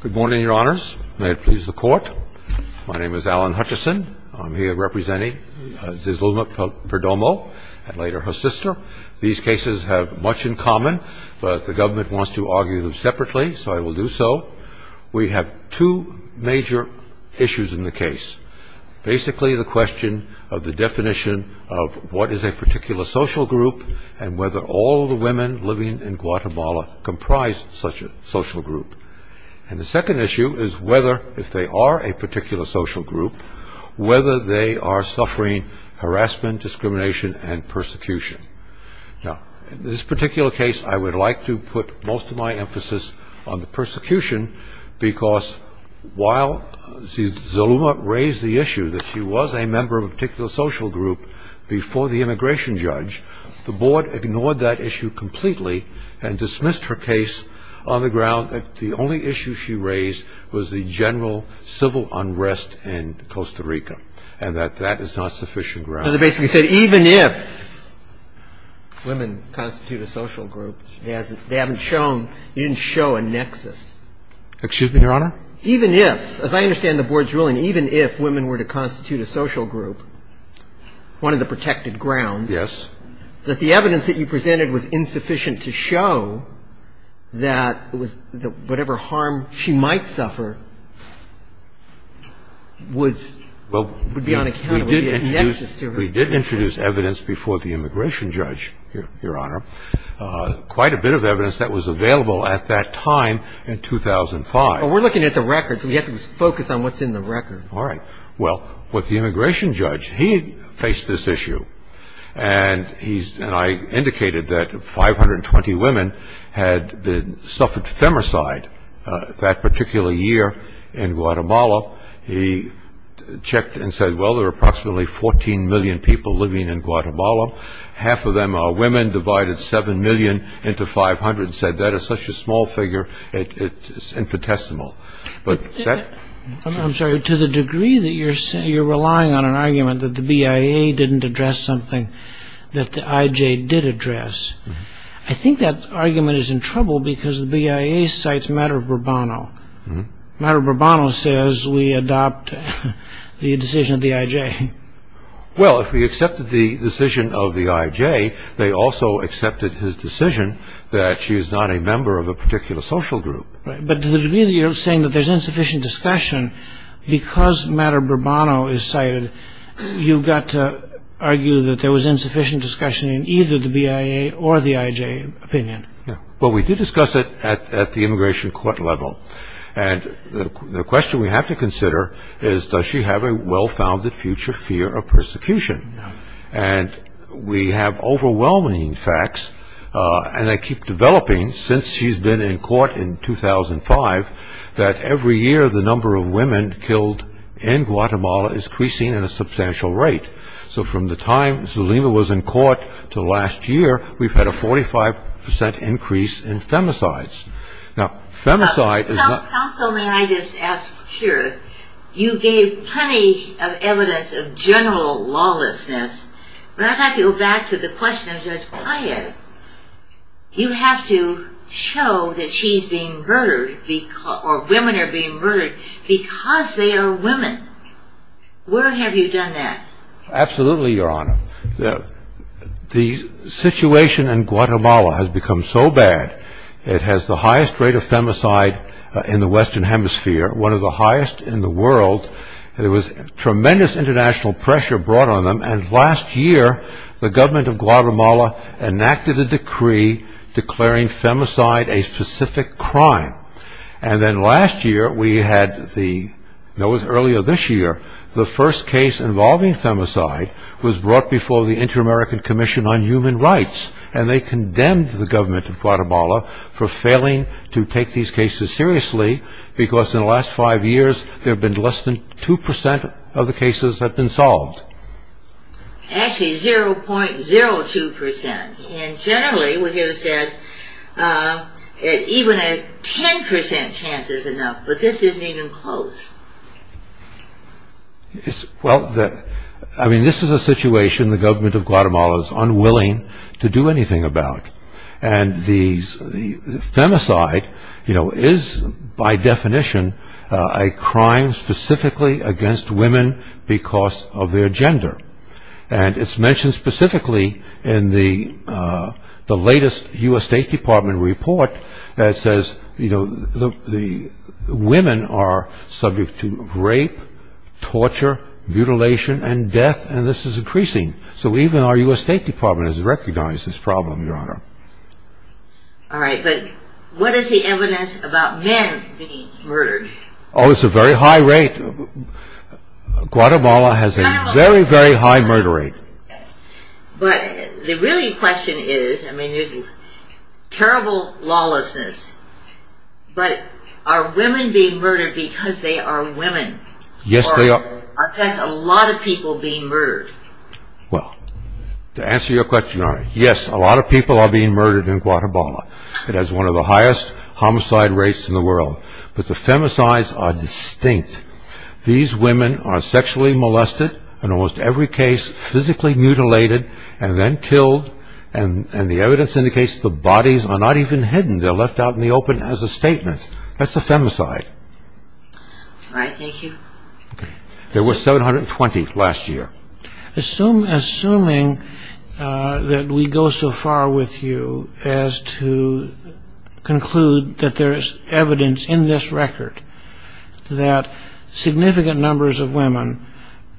Good morning, your honors. May it please the court. My name is Alan Hutchison. I'm here representing Zizilma Perdomo and later her sister. These cases have much in common, but the government wants to argue them separately, so I will do so. We have two major issues in the case. Basically, the question of the definition of what is a particular social group and whether all the women living in Guatemala comprise such a social group. And the second issue is whether, if they are a particular social group, whether they are suffering harassment, discrimination and persecution. Now, in this particular case, I would like to put most of my emphasis on the persecution, because while Zizilma raised the issue that she was a member of a particular social group before the immigration judge, the board ignored that issue completely and dismissed her case on the ground that the only issue she raised was the general civil unrest in Costa Rica and that that is not sufficient ground. And they basically said even if women constitute a social group, they haven't shown, they didn't show a nexus. Excuse me, your honor? Even if, as I understand the board's ruling, even if women were to constitute a social group, one of the protected grounds would be that they are a social group. Now, let me ask you a question. You said that the evidence that you presented was insufficient to show that whatever harm she might suffer would be unaccountable, would be a nexus to her. We did introduce evidence before the immigration judge, your honor, quite a bit of evidence that was available at that time in 2005. But we're looking at the records. We have to focus on what's in the records. All right. Well, with the immigration judge, he faced this issue. And I indicated that 520 women had suffered femicide that particular year in Guatemala. He checked and said, well, there are approximately 14 million people living in Guatemala. Half of them are women, divided 7 million into 500. He said, that is such a small figure, it's infinitesimal. I'm sorry. To the degree that you're relying on an argument that the BIA didn't address something that the IJ did address, I think that argument is in trouble because the BIA cites Maduro Bourbono. Maduro Bourbono says, we adopt the decision of the IJ. Well, if he accepted the decision of the IJ, they also accepted his decision that she is not a member of a particular social group. But to the degree that you're saying that there's insufficient discussion, because Maduro Bourbono is cited, you've got to argue that there was insufficient discussion in either the BIA or the IJ opinion. Well, we did discuss it at the immigration court level. And the question we have to consider is, does she have a well-founded future fear of persecution? And we have overwhelming facts, and they keep developing since she's been in court in 2005, that every year the number of women killed in Guatemala is increasing at a substantial rate. So from the time Zulima was in court to last year, we've had a 45% increase in femicides. Counsel, may I just ask here, you gave plenty of evidence of general lawlessness, but I'd like to go back to the question of the BIA. You have to show that she's being murdered, or women are being murdered, because they are women. Where have you done that? Absolutely, Your Honor. The situation in Guatemala has become so bad, it has the highest rate of femicide in the Western Hemisphere, one of the highest in the world. There was tremendous international pressure brought on them, and last year the government of Guatemala enacted a decree declaring femicide a specific crime. And then last year we had the, no, it was earlier this year, the first case involving femicide was brought before the Inter-American Commission on Human Rights, and they condemned the government of Guatemala for failing to take these cases seriously, because in the last five years there have been less than 2% of the cases that have been solved. Actually, 0.02%. And generally, what you said, even a 10% chance is enough, but this isn't even close. Well, I mean, this is a situation the government of Guatemala is unwilling to do anything about, and the femicide, you know, is by definition a crime specifically against women because of their gender. And it's mentioned specifically in the latest U.S. State Department report that says, you know, women are subject to rape, torture, mutilation, and death, and this is increasing. So even our U.S. State Department has recognized this problem, Your Honor. All right, but what is the evidence about men being murdered? Oh, it's a very high rate. Guatemala has a very, very high murder rate. But the really question is, I mean, there's terrible lawlessness, but are women being murdered because they are women? Yes, they are. Or are a lot of people being murdered? Well, to answer your question, Your Honor, yes, a lot of people are being murdered in Guatemala. It has one of the highest homicide rates in the world. But the femicides are distinct. These women are sexually molested in almost every case, physically mutilated and then killed, and the evidence indicates the bodies are not even hidden. They're left out in the open as a statement. That's a femicide. All right, thank you. There were 720 last year. Assuming that we go so far with you as to conclude that there is evidence in this record that significant numbers of women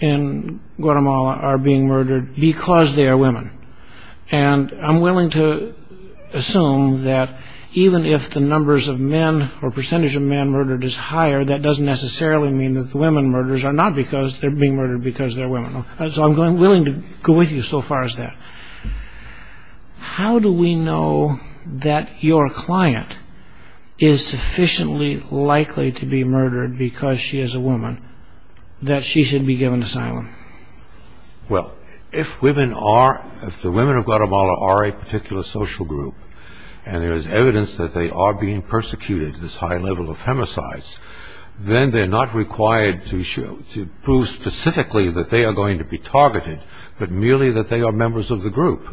in Guatemala are being murdered because they are women, and I'm willing to assume that even if the numbers of men or percentage of men murdered is higher, that doesn't necessarily mean that the women murders are not because they're being murdered because they're women. So I'm willing to go with you so far as that. How do we know that your client is sufficiently likely to be murdered because she is a woman that she should be given asylum? Well, if the women of Guatemala are a particular social group and there is evidence that they are being persecuted, this high level of femicides, then they're not required to prove specifically that they are going to be targeted, but merely that they are members of the group.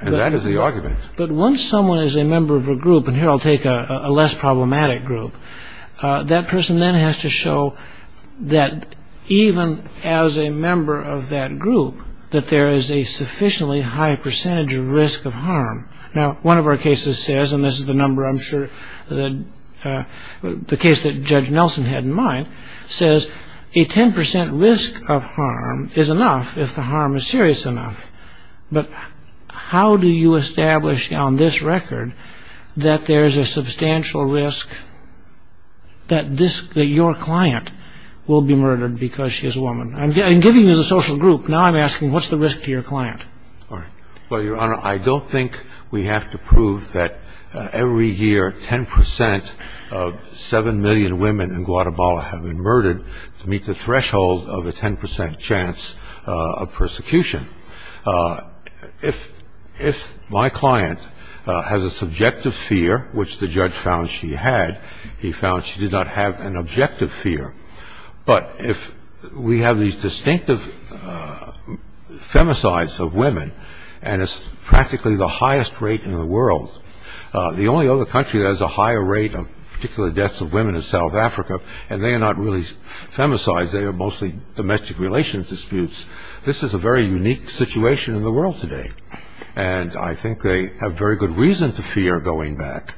And that is the argument. But once someone is a member of a group, and here I'll take a less problematic group, that person then has to show that even as a member of that group, that there is a sufficiently high percentage of risk of harm. Now, one of our cases says, and this is the case that Judge Nelson had in mind, says a 10% risk of harm is enough if the harm is serious enough. But how do you establish on this record that there is a substantial risk that your client will be murdered because she is a woman? I'm giving you the social group. Now I'm asking, what's the risk to your client? Well, Your Honor, I don't think we have to prove that every year 10% of 7 million women in Guatemala have been murdered to meet the threshold of a 10% chance of persecution. If my client has a subjective fear, which the judge found she had, he found she did not have an objective fear. But if we have these distinctive femicides of women, and it's practically the highest rate in the world, the only other country that has a higher rate of particular deaths of women is South Africa, and they are not really femicides, they are mostly domestic relations disputes, this is a very unique situation in the world today. And I think they have very good reason to fear going back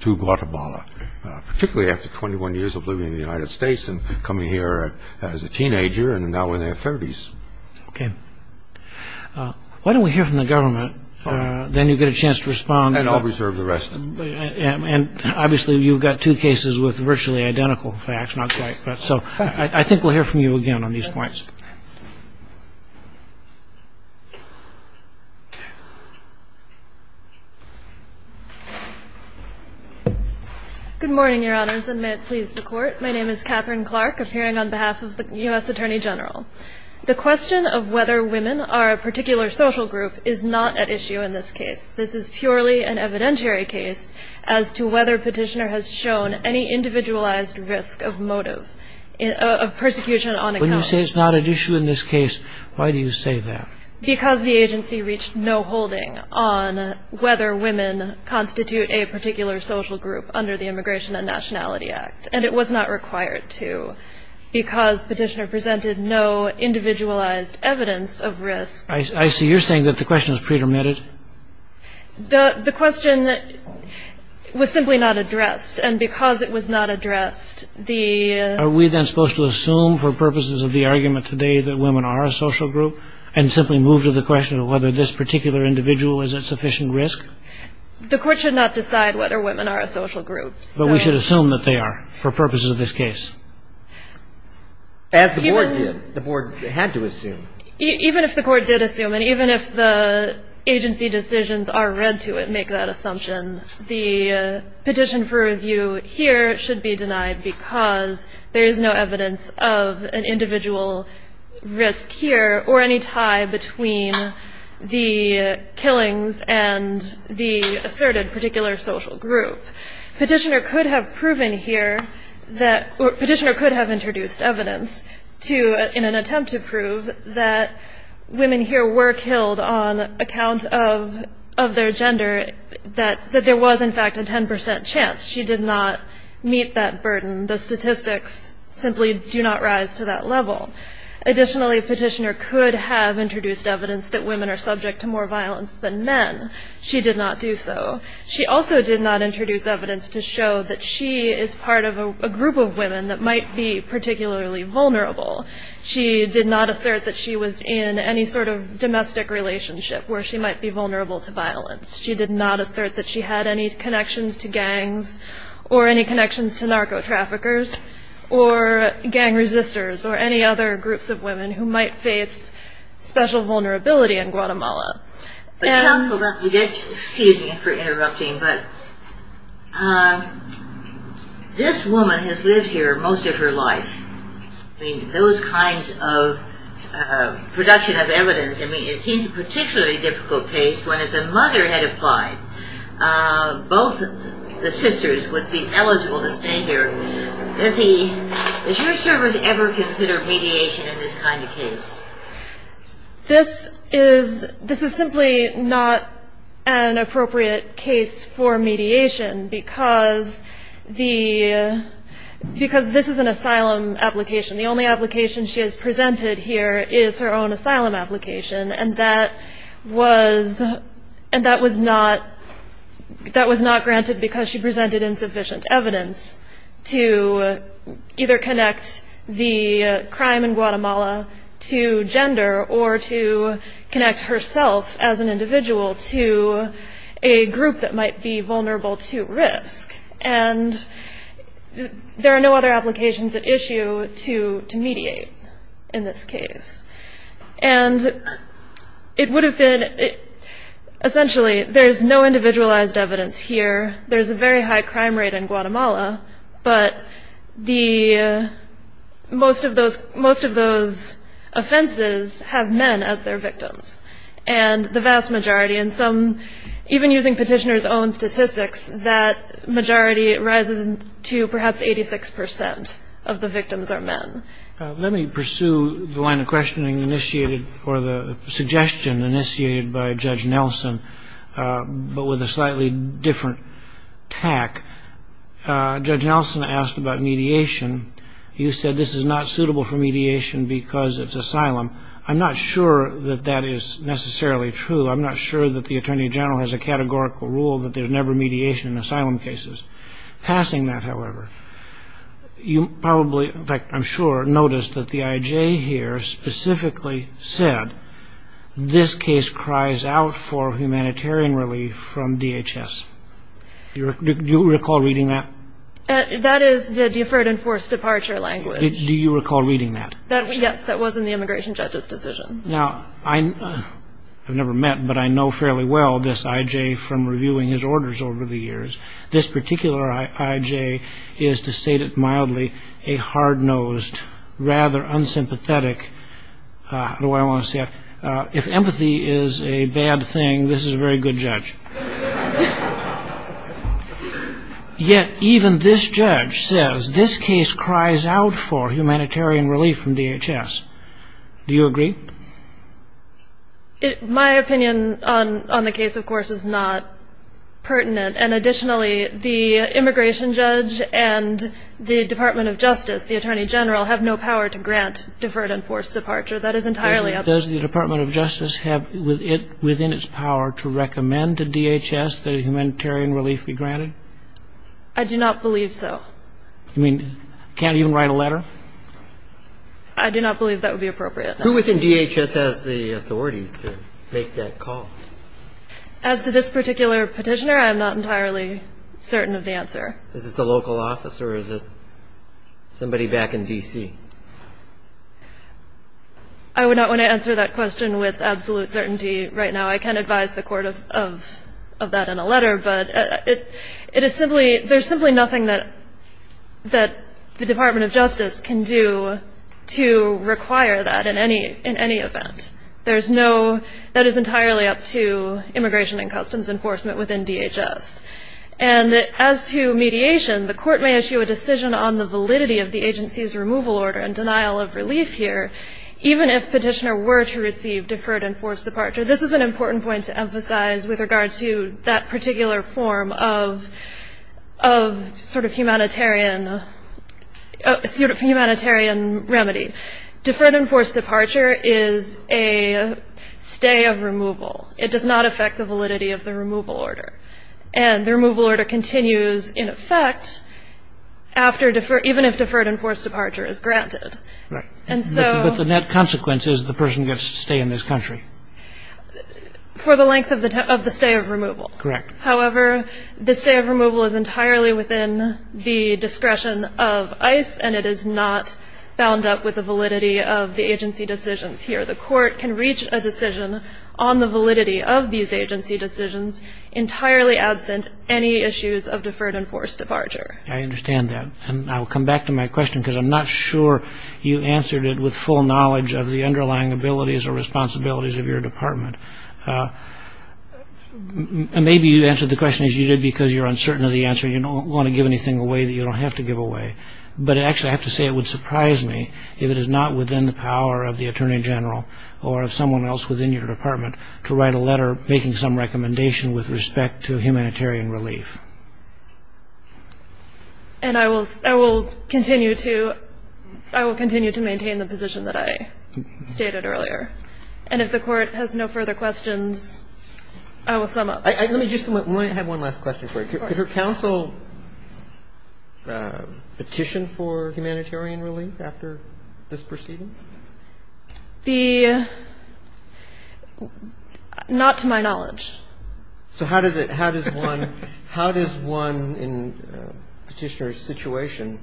to Guatemala, particularly after 21 years of living in the United States and coming here as a teenager and now in their 30s. Okay. Why don't we hear from the government, then you get a chance to respond. And I'll reserve the rest. And obviously you've got two cases with virtually identical facts, not quite, so I think we'll hear from you again on these points. Good morning, Your Honors, and may it please the Court. My name is Catherine Clark, appearing on behalf of the U.S. Attorney General. The question of whether women are a particular social group is not at issue in this case. This is purely an evidentiary case as to whether Petitioner has shown any individualized risk of motive of persecution on account. When you say it's not at issue in this case, why do you say that? Because the agency reached no holding on whether women constitute a particular social group under the Immigration and Nationality Act, and it was not required to because Petitioner presented no individualized evidence of risk. I see. You're saying that the question is pretermitted? The question was simply not addressed. And because it was not addressed, the — Are we then supposed to assume for purposes of the argument today that women are a social group and simply move to the question of whether this particular individual is at sufficient risk? The Court should not decide whether women are a social group. But we should assume that they are for purposes of this case. As the Board did. The Board had to assume. Even if the Court did assume, and even if the agency decisions are read to make that assumption, the petition for review here should be denied because there is no evidence of an individual risk here or any tie between the killings and the asserted particular social group. Petitioner could have proven here that — Petitioner could have introduced evidence to — that women here were killed on account of their gender, that there was, in fact, a 10 percent chance. She did not meet that burden. The statistics simply do not rise to that level. Additionally, Petitioner could have introduced evidence that women are subject to more violence than men. She did not do so. She also did not introduce evidence to show that she is part of a group of women that might be particularly vulnerable. She did not assert that she was in any sort of domestic relationship where she might be vulnerable to violence. She did not assert that she had any connections to gangs or any connections to narco-traffickers or gang resistors or any other groups of women who might face special vulnerability in Guatemala. Excuse me for interrupting, but this woman has lived here most of her life. I mean, those kinds of production of evidence, I mean, it seems a particularly difficult case when if the mother had applied, both the sisters would be eligible to stay here. Does he — does your service ever consider mediation in this kind of case? This is simply not an appropriate case for mediation because this is an asylum application. The only application she has presented here is her own asylum application, and that was not granted because she presented insufficient evidence to either connect the crime in Guatemala to gender or to connect herself as an individual to a group that might be vulnerable to risk. And there are no other applications at issue to mediate in this case. And it would have been — essentially, there's no individualized evidence here. There's a very high crime rate in Guatemala, but the — most of those offenses have men as their victims. And the vast majority, and some — even using petitioner's own statistics, that majority rises to perhaps 86 percent of the victims are men. Let me pursue the line of questioning initiated or the suggestion initiated by Judge Nelson, but with a slightly different tack. Judge Nelson asked about mediation. You said this is not suitable for mediation because it's asylum. I'm not sure that that is necessarily true. I'm not sure that the Attorney General has a categorical rule that there's never mediation in asylum cases. Passing that, however, you probably — in fact, I'm sure — noticed that the IJ here specifically said, this case cries out for humanitarian relief from DHS. Do you recall reading that? That is the deferred and forced departure language. Do you recall reading that? Yes, that was in the immigration judge's decision. Now, I've never met, but I know fairly well this IJ from reviewing his orders over the years. This particular IJ is, to state it mildly, a hard-nosed, rather unsympathetic — I don't know why I want to say that. If empathy is a bad thing, this is a very good judge. Yet even this judge says this case cries out for humanitarian relief from DHS. Do you agree? My opinion on the case, of course, is not pertinent. And additionally, the immigration judge and the Department of Justice, the Attorney General, have no power to grant deferred and forced departure. Does the Department of Justice have within its power to recommend to DHS that humanitarian relief be granted? I do not believe so. You mean can't even write a letter? I do not believe that would be appropriate. Who within DHS has the authority to make that call? As to this particular petitioner, I am not entirely certain of the answer. Is it the local office or is it somebody back in D.C.? I would not want to answer that question with absolute certainty right now. I can advise the court of that in a letter. But there's simply nothing that the Department of Justice can do to require that in any event. That is entirely up to Immigration and Customs Enforcement within DHS. And as to mediation, the court may issue a decision on the validity of the agency's removal order and denial of relief here, even if petitioner were to receive deferred and forced departure. This is an important point to emphasize with regard to that particular form of sort of humanitarian remedy. Deferred and forced departure is a stay of removal. It does not affect the validity of the removal order. And the removal order continues, in effect, even if deferred and forced departure is granted. But the net consequence is the person gets to stay in this country. For the length of the stay of removal. Correct. However, the stay of removal is entirely within the discretion of ICE, and it is not bound up with the validity of the agency decisions here. The court can reach a decision on the validity of these agency decisions entirely absent any issues of deferred and forced departure. I understand that. And I will come back to my question, because I'm not sure you answered it with full knowledge of the underlying abilities or responsibilities of your department. And maybe you answered the question as you did because you're uncertain of the answer. You don't want to give anything away that you don't have to give away. But actually, I have to say it would surprise me if it is not within the power of the Attorney General or of someone else within your department to write a letter making some recommendation with respect to humanitarian relief. I will continue to maintain the position that I stated earlier. And if the Court has no further questions, I will sum up. Let me just have one last question for you. Of course. Could your counsel petition for humanitarian relief after this proceeding? The – not to my knowledge. So how does it – how does one – how does one in Petitioner's situation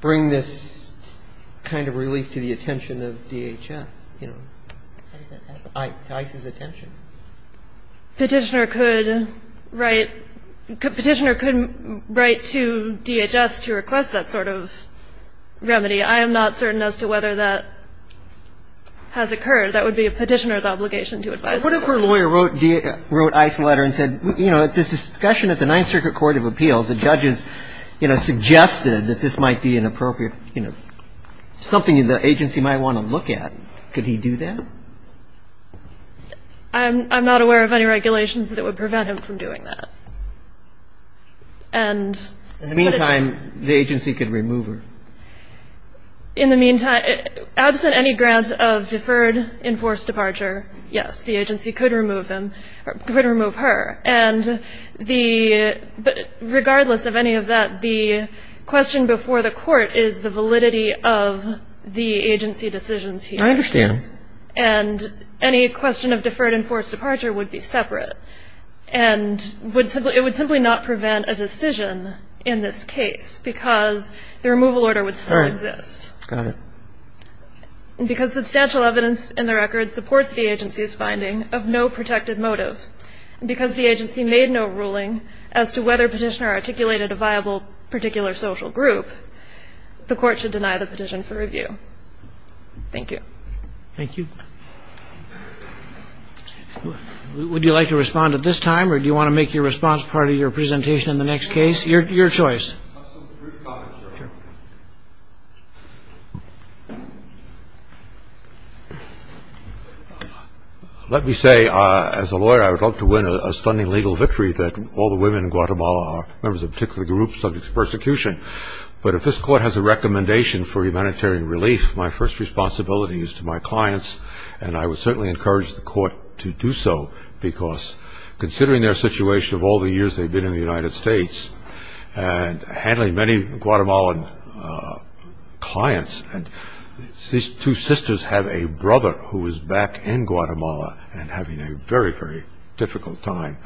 bring this kind of relief to the attention of DHS, you know, to ICE's attention? Petitioner could write – Petitioner could write to DHS to request that sort of remedy. I am not certain as to whether that has occurred. That would be a Petitioner's obligation to advise them. But what if her lawyer wrote ICE a letter and said, you know, at this discussion at the Ninth Circuit Court of Appeals, the judges, you know, suggested that this might be inappropriate, you know, something the agency might want to look at. Could he do that? I'm not aware of any regulations that would prevent him from doing that. In the meantime, the agency could remove her. In the meantime, absent any grant of deferred enforced departure, yes, the agency could remove him – could remove her. And the – regardless of any of that, the question before the Court is the validity of the agency decisions here. I understand. And any question of deferred enforced departure would be separate. And it would simply not prevent a decision in this case because the removal order would still exist. All right. Got it. And because substantial evidence in the record supports the agency's finding of no protected motive, and because the agency made no ruling as to whether Petitioner articulated a viable particular social group, the Court should deny the petition for review. Thank you. Thank you. Would you like to respond at this time, or do you want to make your response part of your presentation in the next case? Your choice. Let me say, as a lawyer, I would love to win a stunning legal victory that all the women in Guatemala are members of a particular group subject to persecution. But if this Court has a recommendation for humanitarian relief, my first responsibility is to my clients. And I would certainly encourage the Court to do so because considering their situation of all the years they've been in the United States and handling many Guatemalan clients, these two sisters have a brother who is back in Guatemala and having a very, very difficult time.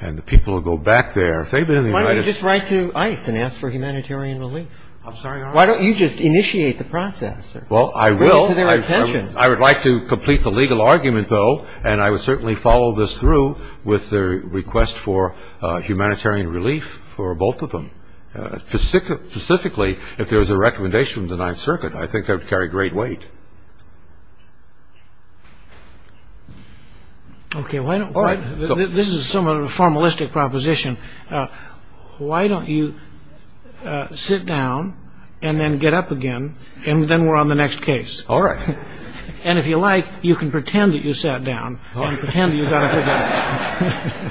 And the people who go back there, if they've been in the United States – Why don't you just write to ICE and ask for humanitarian relief? I'm sorry, Your Honor? Why don't you just initiate the process? Well, I will. I would like to complete the legal argument, though, and I would certainly follow this through with the request for humanitarian relief for both of them. Specifically, if there was a recommendation from the Ninth Circuit, I think that would carry great weight. Okay. Why don't – All right. This is somewhat of a formalistic proposition. Why don't you sit down and then get up again, and then we're on the next case? All right. And if you like, you can pretend that you sat down and pretend that you got up again.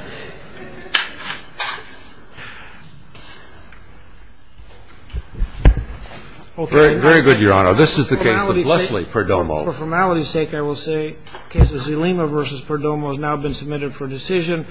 All right. Very good, Your Honor. Now, this is the case of Leslie Perdomo. For formality's sake, I will say the case of Zulema v. Perdomo has now been submitted for decision.